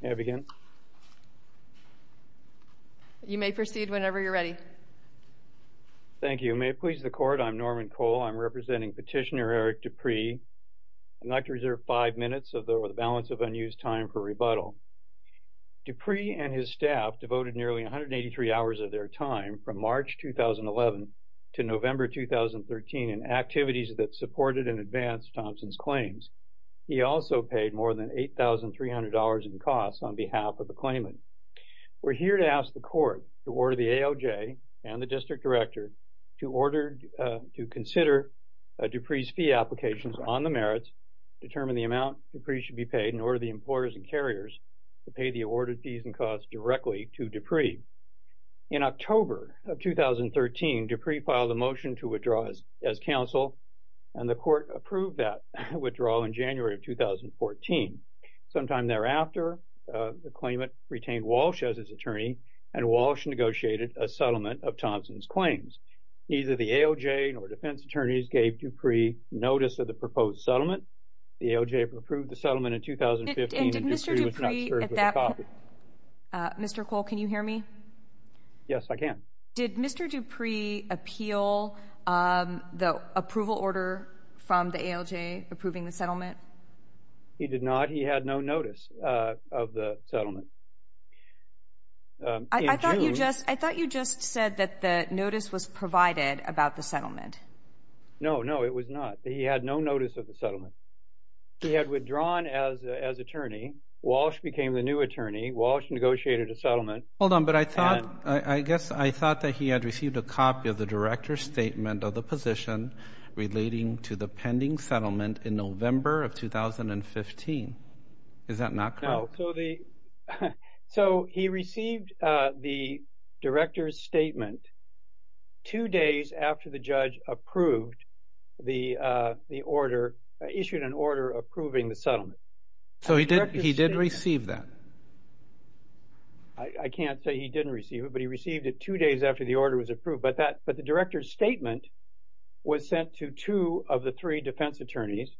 You may proceed whenever you're ready. Thank you. May it please the Court, I'm Norman Cole. I'm representing petitioner Eric Dupree. I'd like to reserve five minutes of the balance of unused time for rebuttal. Dupree and his staff devoted nearly 183 hours of their time from March 2011 to November 2013 in activities that supported and advanced Thompson's claims. He also paid more than $8,300 in costs on behalf of the claimant. We're here to ask the Court to order the AOJ and the District Director to order to consider Dupree's fee applications on the merits, determine the amount Dupree should be paid, and order the employers and carriers to pay the awarded fees and costs directly to Dupree. In October of 2013, Dupree filed a motion to withdraw as counsel and the Court approved that withdrawal in January of 2014. Sometime thereafter, the claimant retained Walsh as his attorney and Walsh negotiated a settlement of Thompson's claims. Neither the AOJ nor defense attorneys gave Dupree notice of the proposed settlement. The AOJ approved the settlement in 2015 and Dupree was not served with a copy. Mr. Cole, can you hear me? Yes, I can. Did Mr. Dupree appeal the approval order from the AOJ approving the settlement? He did not. He had no notice of the settlement. I thought you just said that the notice was provided about the settlement. No, no, it was not. He had no notice of the settlement. He had withdrawn as attorney. Walsh became the new attorney. Walsh negotiated a settlement. Hold on, but I thought, I guess I thought that he had received a copy of the director's statement of the position relating to the pending settlement in November of 2015. Is that not correct? No, so he received the director's statement two days after the judge approved the order, issued an order approving the settlement. So he did he did receive that? I can't say he didn't receive it, but he received it two days after the order was approved. But the director's statement was sent to two of the three defense attorneys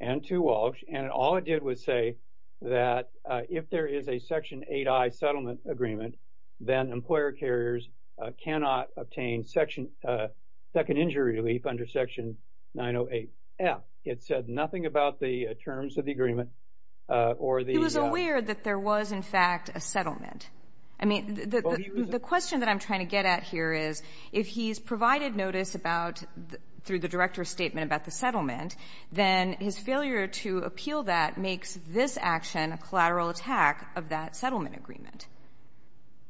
and to Walsh, and all it did was say that if there is a Section 8i settlement agreement, then employer carriers cannot obtain second injury relief under Section 908F. It said nothing about the terms of the agreement. He was aware that there was in fact a settlement. I mean, the question that I'm trying to get at here is, if he's provided notice about, through the director's statement about the settlement, then his failure to appeal that makes this action a collateral attack of that settlement agreement.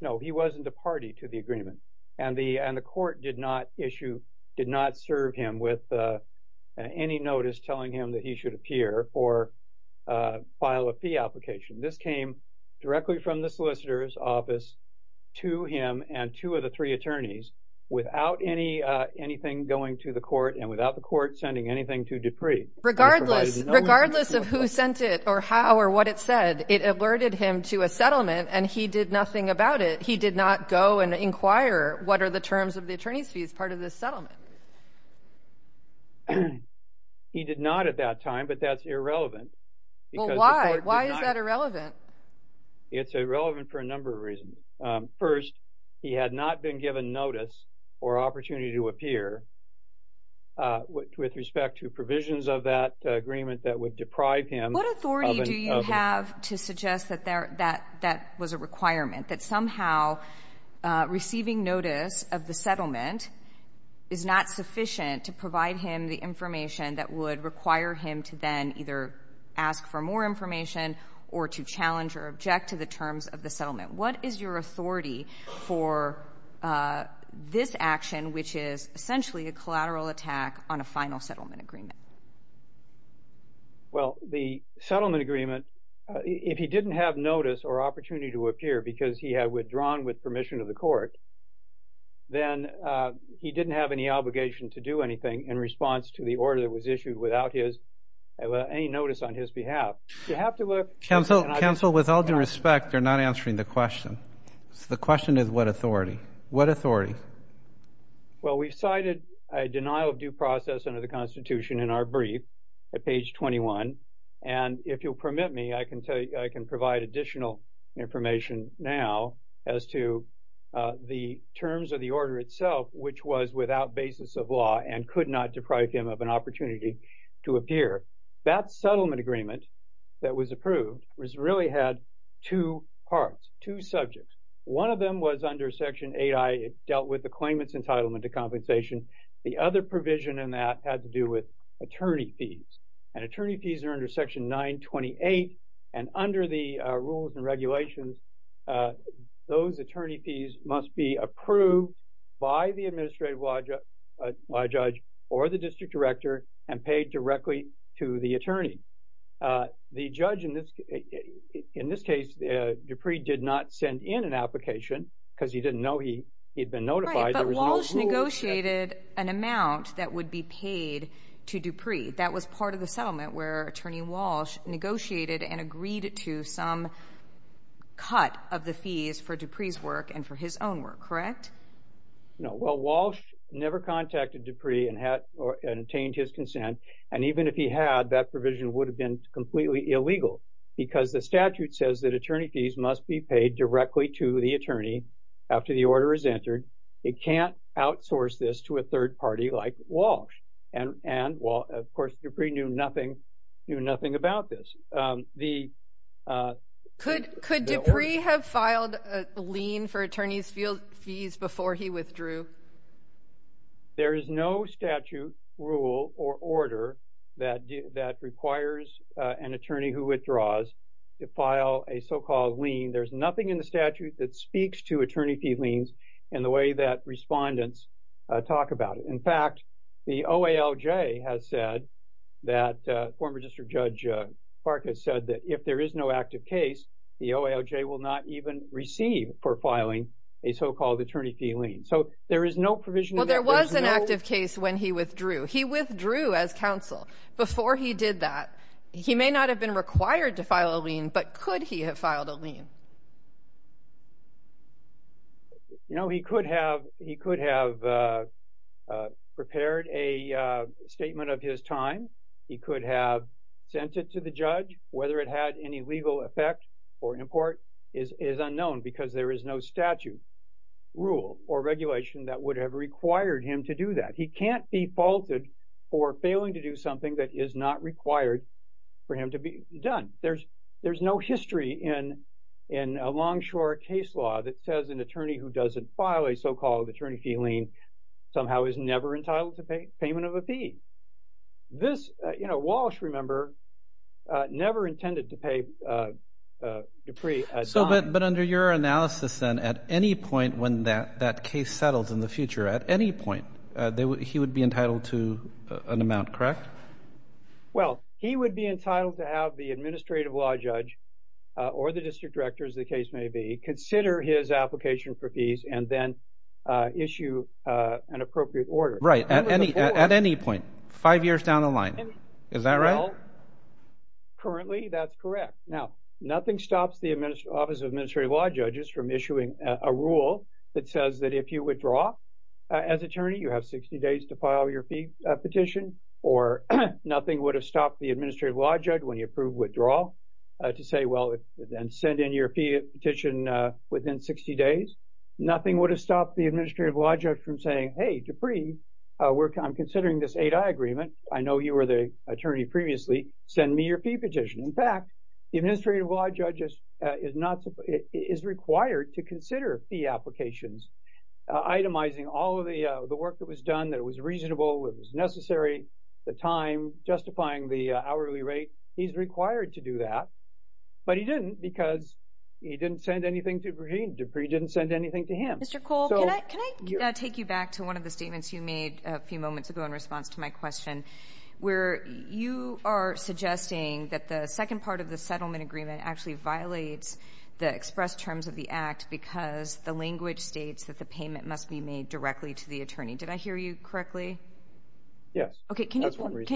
No, he wasn't a party to the agreement, and the court did not issue, did not serve him with any notice telling him that he should appear or file a fee application. This came directly from the solicitor's office to him and two of the three attorneys without anything going to the court and without the court sending anything to Dupree. Regardless of who sent it or how or what it said, it alerted him to a settlement, and he did nothing about it. He did not go and inquire what are the terms of the attorney's fees part of this settlement. He did not at that time, but that's irrelevant. Well, why? Why is that irrelevant? It's irrelevant for a number of reasons. First, he had not been given notice or opportunity to appear with respect to provisions of that agreement that would deprive him. What authority do you have to suggest that that was a requirement, that somehow receiving notice of the settlement is not sufficient to provide him the information that would require him to then either ask for more information or to challenge or object to the terms of the settlement? What is your authority for this action, which is essentially a collateral attack on a final settlement agreement? Well, the settlement agreement, if he didn't have notice or opportunity to appear because he had withdrawn with permission of the court, then he didn't have any obligation to do anything in response to the order that was issued without his, well, any notice on his behalf. You have to look... Counsel, with all due respect, you're not answering the question. The question is what authority? What authority? Well, we've cited a denial of due process under the Constitution in our brief at page 21, and if you'll permit me, I can tell you, I can provide additional information now as to the terms of the order itself, which was without basis of law and could not deprive him of an opportunity to appear. That settlement agreement that was approved was really had two parts, two subjects. One of them was under Section 8I, it dealt with the claimant's entitlement to compensation. The other provision in that had to do with attorney fees, and attorney fees are under Section 928, and under the rules and regulations, those attorney fees must be approved by the administrative law judge or the district director and paid directly to the attorney. The judge, in this case, Dupree did not send in an application because he didn't know he had been notified. Right, but Walsh negotiated an amount that would be paid to Dupree. That was part of the settlement where Attorney Walsh negotiated and agreed to some cut of the fees for Dupree's work and for his own work, correct? No, well Walsh never contacted Dupree and had or attained his consent, and even if he had, that provision would have been completely illegal because the statute says that attorney fees must be paid directly to the attorney after the order is entered. It can't outsource this to a third party like Walsh, and, well, of course, Dupree knew nothing, knew nothing about this. Could Dupree have filed a lien for attorney's fees before he withdrew? There is no statute, rule, or order that requires an attorney who withdraws to file a so-called lien. There's nothing in the statute that speaks to attorney fee liens in the way that respondents talk about it. In fact, the OALJ has said that, former District Judge Park has said that if there is no active case, the OALJ will not even receive for filing a so-called attorney fee lien. So there is no provision. Well, there was an active case when he withdrew. He withdrew as counsel. Before he did that, he may not have been required to file a lien, but could he have filed a lien? You know, he could have, he could have prepared a statement of his time. He could have sent it to the judge. Whether it had any legal effect or import is unknown because there is no statute, rule, or regulation that would have required him to do that. He can't be faulted for failing to do something that is not required for him to be done. There's, there's no history in, in a Longshore case law that says an attorney who doesn't file a so-called attorney fee lien somehow is never entitled to pay, payment of a fee. This, you know, Walsh, remember, never intended to pay Dupree. So, but, but under your analysis then, at any point when that, that case settles in the future, at any point, they would, he would be entitled to an amount, correct? Well, he would be entitled to have the administrative law judge or the district director, as the case may be, consider his application for fees and then issue an appropriate order. Right, at any, at any point, five years down the line. Is that right? Well, currently, that's correct. Now, nothing stops the administer, Office of Administrative Law Judges from issuing a rule that says that if you withdraw as attorney, you have 60 days to file your fee petition, or nothing would have stopped the administrative law judge when you approved withdrawal to say, well, then send in your fee petition within 60 days. Nothing would have stopped the administrative law judge from saying, hey, Dupree, we're, I'm considering this 8i agreement, I know you were the attorney previously, send me your fee petition. In fact, the administrative law judge is not, is required to consider fee applications, itemizing all of the, the work that was done, that it was reasonable, it was necessary, the time, justifying the hourly rate, he's required to do that, but he didn't because he didn't send anything to Dupree, Dupree didn't send anything to him. Mr. Cole, can I take you back to one of the statements you made a few moments ago in response to my question, where you are suggesting that the second part of the settlement agreement actually violates the express terms of the act because the language states that the payment must be made directly to the attorney. Did I hear you correctly? Yes. Okay, can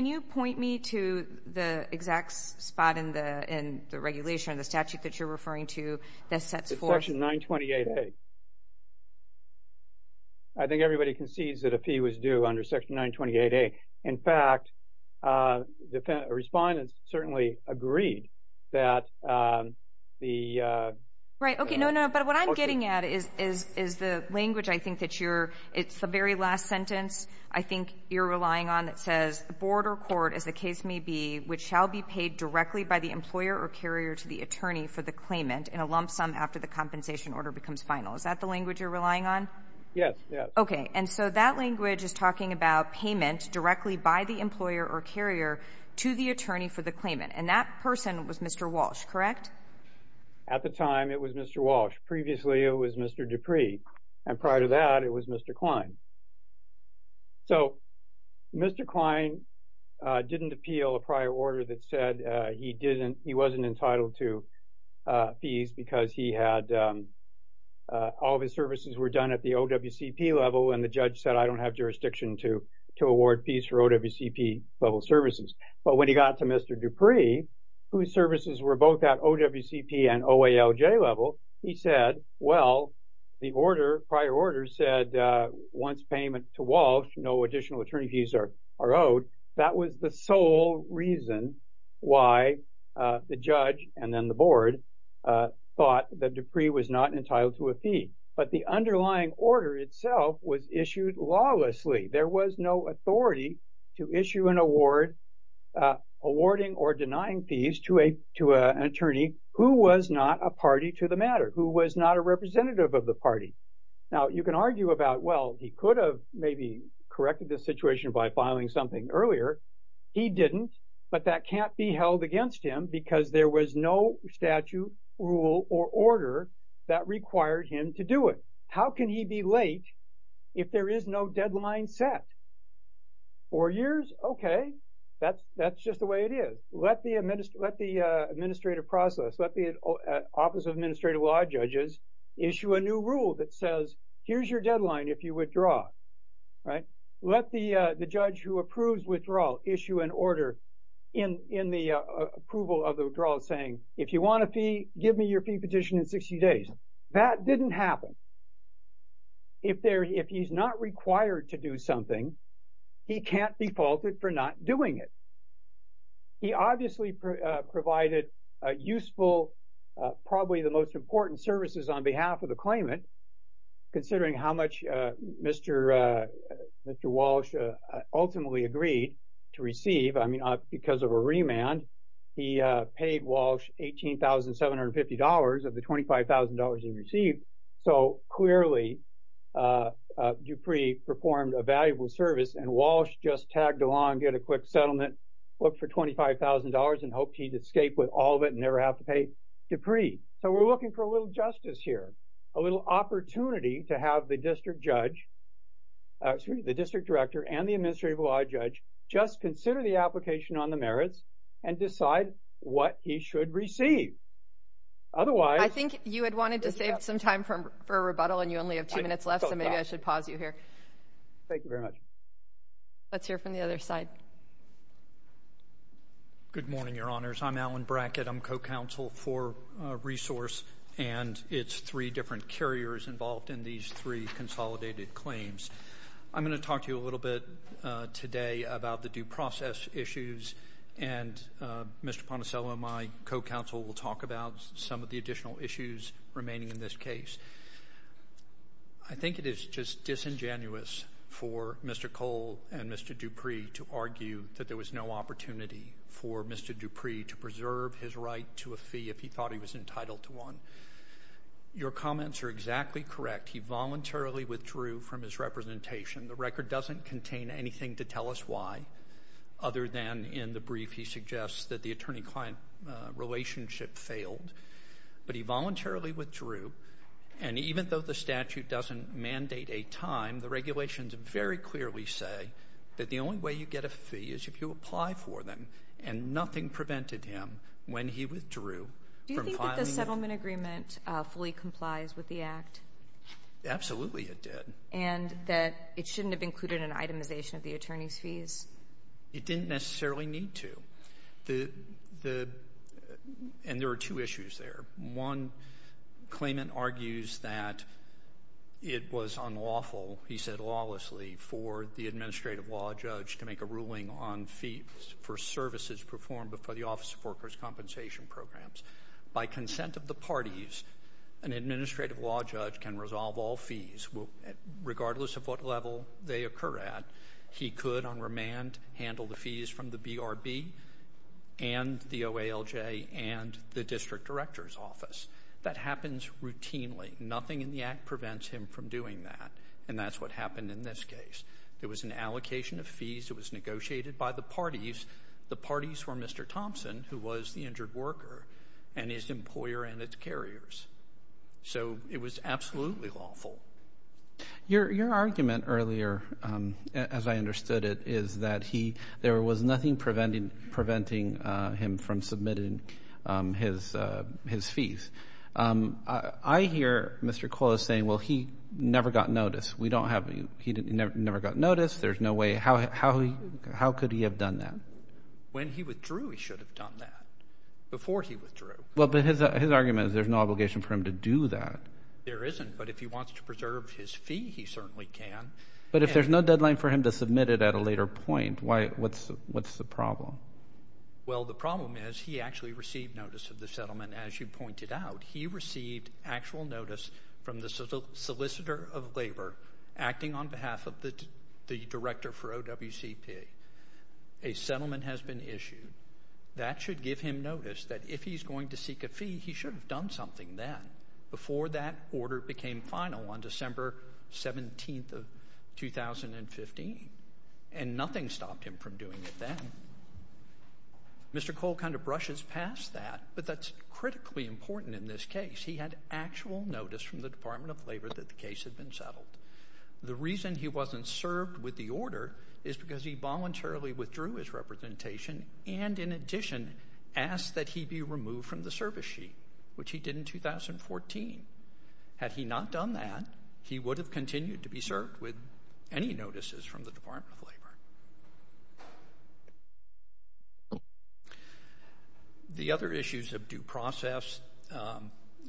you point me to the exact spot in the, in the regulation, the statute that you're referring to, that sets forth. Section 928A, I think everybody concedes that a fee was due under section 928A. In fact, the respondents certainly agreed that the... Right, okay, no, no, but what I'm getting at is, is, is the language I think that you're, it's the very last sentence I think you're relying on that says, the board or court, as the case may be, which shall be paid directly by the employer or carrier to the attorney for the claimant in a lump sum after the compensation order becomes final. Is that the language you're relying on? Yes, yes. Okay, and so that language is talking about payment directly by the employer or carrier to the attorney for the claimant, and that person was Mr. Walsh, correct? At the time, it was Mr. Walsh. Previously, it was Mr. Dupree, and prior to that, it was Mr. Klein. So Mr. Klein didn't appeal a prior order that said he didn't, he wasn't entitled to fees because he had, all of his services were done at the OWCP level, and the judge said, I don't have jurisdiction to, to award fees for OWCP level services. But when he got to Mr. Dupree, whose services were both at OWCP and OALJ level, he said, well, the order, prior order said, once payment to Walsh, no additional attorney fees are owed. That was the sole reason why the judge and then the board thought that Dupree was not entitled to a fee. But the underlying order itself was issued lawlessly. There was no authority to issue an award, awarding or denying fees to a, to an attorney who was not a party to the matter, who was not a representative of the party. Now, you can argue about, well, he could have maybe corrected this situation by filing something earlier. He didn't, but that can't be held against him because there was no statute, rule, or order that required him to do it. How can he be late if there is no deadline set? Four years? Okay, that's, that's just the way it is. Let the, let the administrative process, let the Office of Administrative Law judges issue a new rule that says, here's your deadline if you withdraw, right? Let the, the judge who approves withdrawal issue an order in, in the approval of the withdrawal saying, if you want a fee, give me your fee petition in 60 days. That didn't happen. If there, if he's not required to do something, he can't be faulted for not doing it. He obviously provided useful, probably the most important services on behalf of the claimant, considering how much Mr., Mr. Walsh ultimately agreed to receive. I paid Walsh $18,750 of the $25,000 he received, so clearly Dupree performed a valuable service and Walsh just tagged along, get a quick settlement, looked for $25,000 and hoped he'd escape with all of it and never have to pay Dupree. So we're looking for a little justice here, a little opportunity to have the district judge, excuse me, the district director and the administrative law judge just consider the application on the merits and decide what he should receive. Otherwise, I think you had wanted to save some time from, for a rebuttal and you only have two minutes left, so maybe I should pause you here. Thank you very much. Let's hear from the other side. Good morning, Your Honors. I'm Alan Brackett. I'm co-counsel for Resource and it's three different carriers involved in these three consolidated claims. I'm going to talk to you a little bit today about the due process issues and Mr. Poncello, my co-counsel, will talk about some of the additional issues remaining in this case. I think it is just disingenuous for Mr. Cole and Mr. Dupree to argue that there was no opportunity for Mr. Dupree to preserve his right to a fee if he thought he was entitled to one. Your comments are exactly correct. He voluntarily withdrew from his representation. The record doesn't contain anything to tell us why other than in the brief he suggests that the attorney-client relationship failed, but he voluntarily withdrew and even though the statute doesn't mandate a time, the regulations very clearly say that the only way you get a fee is if you apply for them and nothing prevented him when he withdrew. Do you think the settlement agreement fully complies with the Act? Absolutely it did. And that it shouldn't have included an itemization of the attorney's fees? It didn't necessarily need to. And there are two issues there. One claimant argues that it was unlawful, he said lawlessly, for the administrative law judge to make a ruling on fees for services performed before the Office of Worker's Compensation Programs. By consent of the parties, an administrative law judge can resolve all fees. Regardless of what level they occur at, he could on remand handle the fees from the BRB and the OALJ and the district director's office. That happens routinely. Nothing in the Act prevents him from doing that and that's what happened in this case. There was an allocation of fees, it was for the injured worker and his employer and its carriers. So it was absolutely lawful. Your argument earlier, as I understood it, is that there was nothing preventing him from submitting his fees. I hear Mr. Kola saying, well, he never got notice. We don't have, he never got notice, there's no way, how could he have done that? When he withdrew, he should have done that. Before he withdrew. Well, but his argument is there's no obligation for him to do that. There isn't, but if he wants to preserve his fee, he certainly can. But if there's no deadline for him to submit it at a later point, why, what's the problem? Well, the problem is he actually received notice of the settlement, as you pointed out. He received actual notice from the solicitor of labor acting on behalf of the director for OWCP. A settlement has been issued. That should give him notice that if he's going to seek a fee, he should have done something then, before that order became final on December 17th of 2015. And nothing stopped him from doing it then. Mr. Kola kind of brushes past that, but that's critically important in this case. He had actual notice from the Department of Labor that the case had been settled. The reason he wasn't served with the order is because he voluntarily withdrew his representation and, in addition, asked that he be removed from the service sheet, which he did in 2014. Had he not done that, he would have continued to be served with any notices from the Department of Labor. The other issues of due process.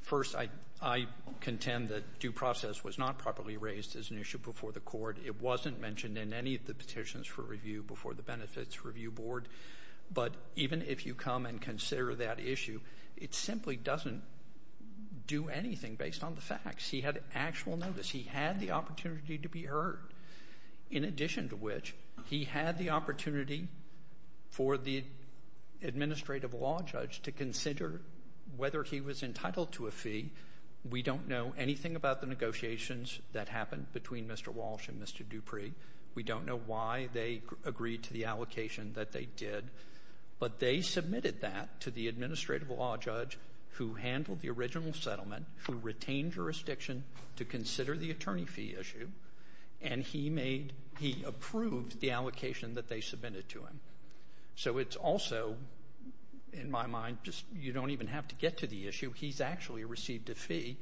First, I contend that due process was not properly raised as an issue before the court. It wasn't mentioned in any of the petitions for review before the Benefits Review Board, but even if you come and consider that issue, it simply doesn't do anything based on the facts. He had actual notice. He had the opportunity to be heard, in addition to which, he had the opportunity for the administrative law judge to consider whether he was entitled to a fee. We don't know anything about the negotiations that happened between Mr. Walsh and Mr. Dupree. We don't know why they agreed to the allocation that they did, but they submitted that to the administrative law judge who handled the original settlement, who retained jurisdiction to consider the attorney fee issue, and he approved the allocation that they submitted to him. So it's also, in my mind, you don't even have to get to the issue. He's actually received a fee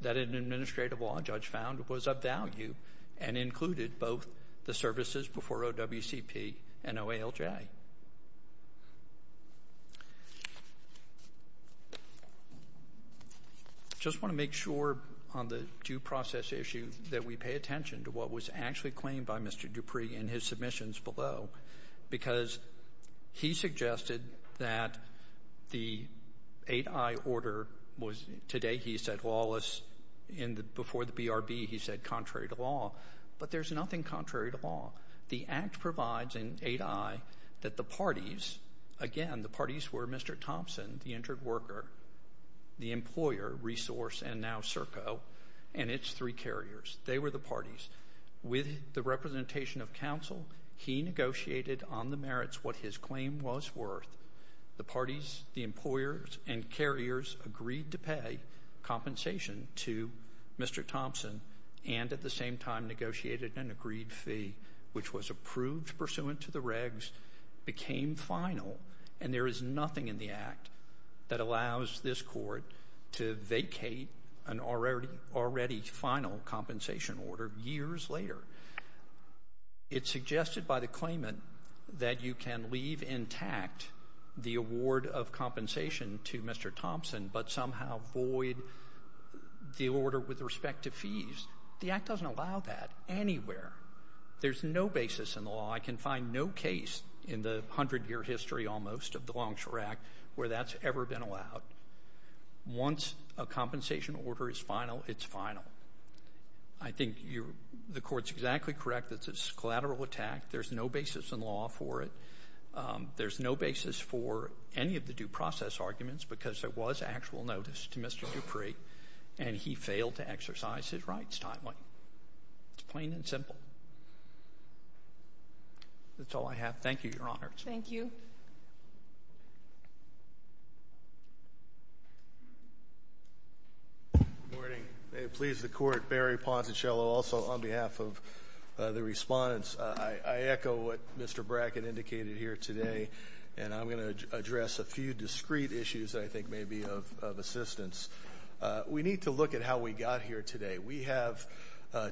that an administrative law judge found was of value and included both the services before OWCP and OALJ. I just want to make sure on the due process issue that we pay attention to what was actually claimed by Mr. Dupree in his submissions below, because he suggested that the 8i order was, today he said, lawless, before the BRB, he said contrary to law, but there's nothing contrary to law. The Act provides in 8i that the parties, again, the parties were Mr. Thompson, the injured worker, the employer, Resource, and now Serco, and its three carriers. They were the parties. With the representation of counsel, he negotiated on the merits what his claim was worth. The parties, the employers, and carriers agreed to pay compensation to Mr. Thompson, and at the same time negotiated an agreed fee, which was approved pursuant to the regs, became final, and there is nothing in the Act that allows this court to vacate an already final compensation order years later. It's suggested by the claimant that you can leave intact the award of compensation to Mr. Thompson, but somehow void the order with respect to fees. The Act doesn't allow that anywhere. There's no basis in the law. I can find no case in the hundred-year history, almost, of the Longshore Act where that's ever been allowed. Once a compensation order is final, it's final. I think the court's exactly correct that it's a collateral attack. There's no basis in law for it. There's no basis for any of the due process arguments because there was actual notice to Mr. Dupree, and he failed to exercise his rights timely. It's plain and simple. That's all I have. Thank you, Your Honor. Thank you. Morning. May it please the Court. Barry Ponsicello, also on behalf of the respondents. I echo what Mr. Brackett indicated here today, and I'm going to address a few discreet issues, I think, maybe of assistance. We need to look at how we got here today. We have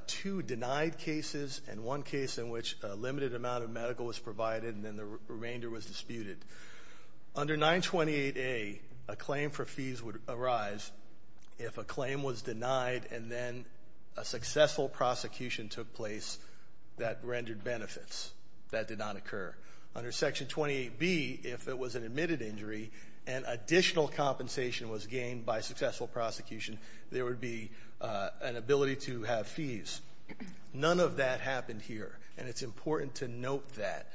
two denied cases and one case in which a limited amount of medical was provided, and then the remainder was disputed. Under 928A, a claim for fees would arise if a claim was denied and then a successful prosecution took place that rendered benefits. That did not occur. Under Section 28B, if it was an admitted injury and additional compensation was gained by successful prosecution, there would be an ability to have fees. None of that happened here, and it's important to note that.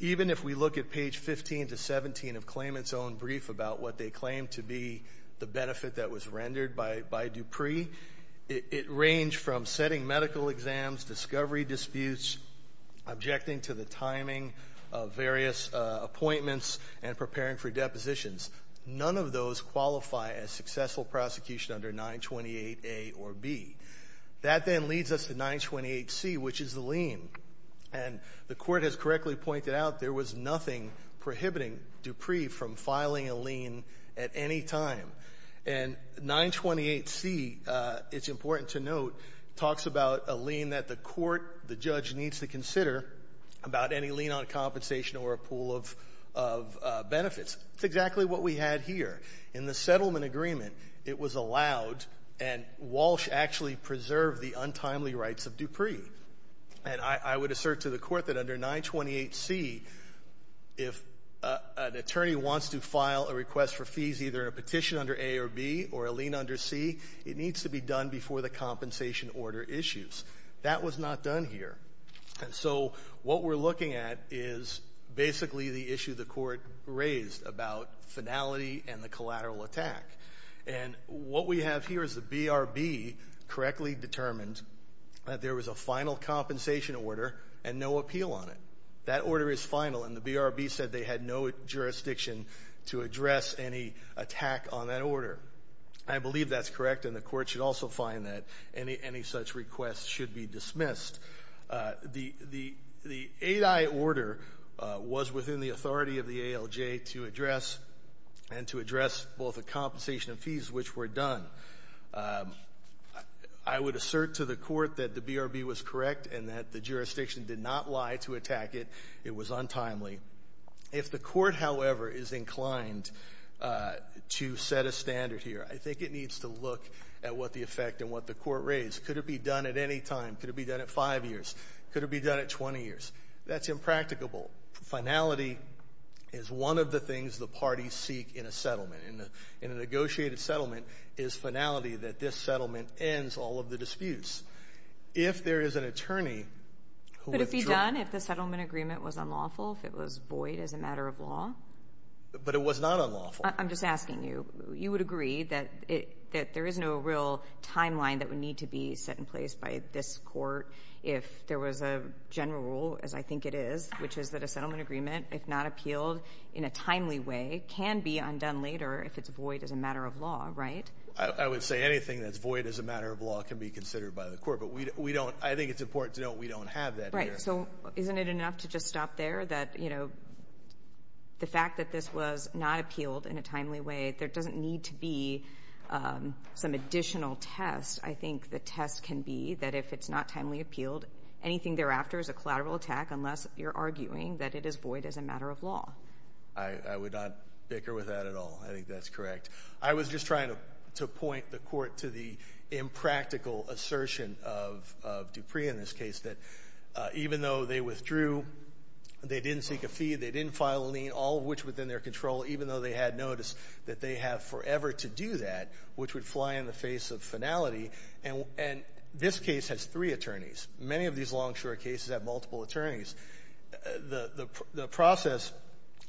Even if we look at page 15 to 17 of Clayman's own brief about what they claim to be the benefit that was rendered by Dupree, it ranged from setting medical exams, discovery disputes, objecting to the timing of various appointments, and preparing for depositions. None of those qualify as successful prosecution under 928A or B. That then leads us to 928C, which is the lien. And the Court has correctly pointed out there was nothing prohibiting Dupree from filing a lien at any time. And 928C, it's important to note, talks about a lien that the court, the judge, needs to consider about any lien on compensation or a pool of benefits. It's exactly what we had here. In the settlement agreement, it was allowed, and Walsh actually preserved the untimely rights of Dupree. And I would assert to the court that under 928C, if an attorney wants to file a request for fees, either a petition under A or B or a lien under C, it needs to be done before the compensation order issues. That was not done here. And so, what we're looking at is basically the issue the court raised about finality and the collateral attack. And what we have here is the BRB correctly determined that there was a final compensation order and no appeal on it. That order is final, and the BRB said they had no jurisdiction to address any attack on that order. I believe that's correct, and the court should also find that any such request should be dismissed. The 8I order was within the authority of the ALJ to address and to address both the I would assert to the court that the BRB was correct and that the jurisdiction did not lie to attack it. It was untimely. If the court, however, is inclined to set a standard here, I think it needs to look at what the effect and what the court raised. Could it be done at any time? Could it be done at five years? Could it be done at 20 years? That's impracticable. Finality is one of the things the parties seek in a settlement. In a negotiated settlement is the finality that this settlement ends all of the disputes. If there is an attorney who withdrew But if he's done, if the settlement agreement was unlawful, if it was void as a matter of law? But it was not unlawful. I'm just asking you. You would agree that it that there is no real timeline that would need to be set in place by this court if there was a general rule, as I think it is, which is that a settlement agreement, if not appealed in a timely way, can be undone later if it's void as a matter of law, right? I would say anything that's void as a matter of law can be considered by the court. But we don't. I think it's important to know we don't have that. Right. So isn't it enough to just stop there that, you know, the fact that this was not appealed in a timely way, there doesn't need to be some additional test. I think the test can be that if it's not timely appealed, anything thereafter is a collateral attack unless you're arguing that it is void as a matter of law. I would not bicker with that at all. I think that's correct. I was just trying to point the court to the impractical assertion of Dupree in this case, that even though they withdrew, they didn't seek a fee, they didn't file a lien, all of which was in their control, even though they had noticed that they have forever to do that, which would fly in the face of finality. And this case has three attorneys. Many of these long, short cases have multiple attorneys. The process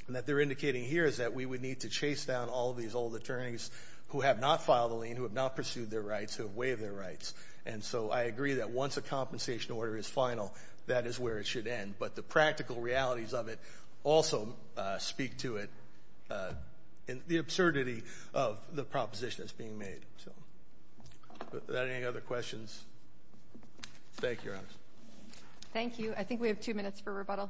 that they're indicating here is that we would need to chase down all these old attorneys who have not filed a lien, who have not pursued their rights, who have waived their rights. And so I agree that once a compensation order is final, that is where it should end. But the practical realities of it also speak to it, uh, in the absurdity of the proposition that's being made. So that any other questions? Thank you, Your Honor. Thank you. I think we have two minutes for rebuttal.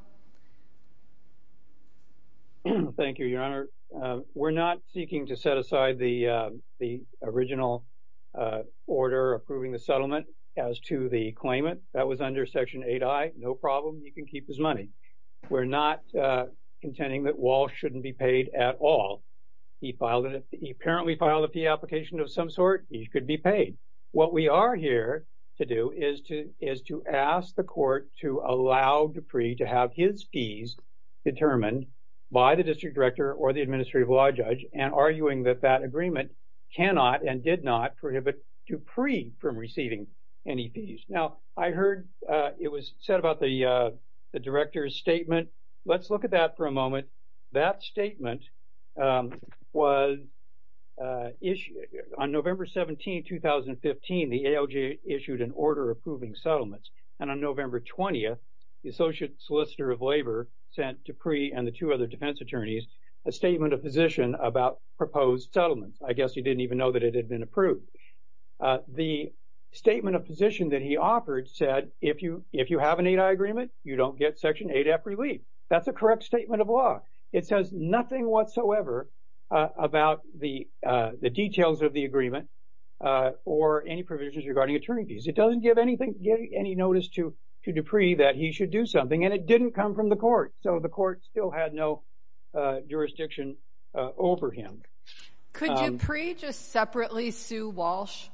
Thank you, Your Honor. We're not seeking to set aside the, uh, the original, uh, order approving the settlement as to the claimant. That was under Section 8I. No problem. You can keep his money. We're not, uh, contending that Walsh shouldn't be paid at all. He filed it. He apparently filed a fee application of some sort. He could be paid. What we are here to do is to is to ask the court to allow Dupree to have his fees determined by the District Director or the Administrative Law Judge, and arguing that that agreement cannot and did not prohibit Dupree from receiving any fees. Now, I heard, uh, it was said about the, uh, the Director's statement. Let's look at that for a moment. That statement, um, was, uh, issued on November 17, 2015. The ALJ issued an order approving settlements, and on November 20, the Associate Solicitor of Labor sent Dupree and the two other defense attorneys a statement of position about proposed settlements. I guess he didn't even know that it had been approved. Uh, the statement of position that he offered said, if you, if you have an 8I agreement, you don't get Section 8F relief. That's a correct statement of law. It says nothing whatsoever, uh, about the, uh, the details of the agreement, uh, or any provisions regarding attorney fees. It doesn't give any notice to, to Dupree that he should do something, and it didn't come from the court. So the court still had no, uh, jurisdiction, uh, over him. Could Dupree just separately sue Walsh?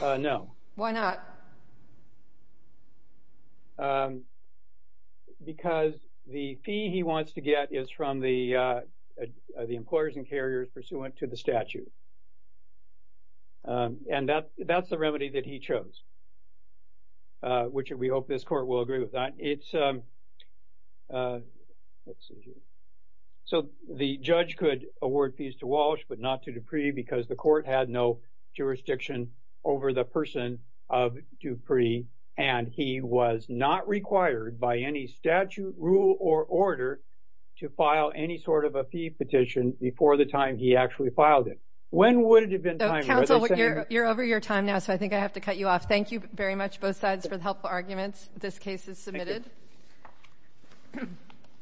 Uh, no. Why not? Um, because the fee he wants to get is from the, uh, the employers and the statute. Um, and that, that's the remedy that he chose, uh, which we hope this court will agree with that. It's, um, uh, let's see here. So the judge could award fees to Walsh but not to Dupree because the court had no jurisdiction over the person of Dupree, and he was not required by any statute, rule, or order to file any sort of a fee petition before the time he actually filed it. When would it have been time? Uh, counsel, you're, you're over your time now, so I think I have to cut you off. Thank you very much, both sides, for the helpful arguments. This case is submitted.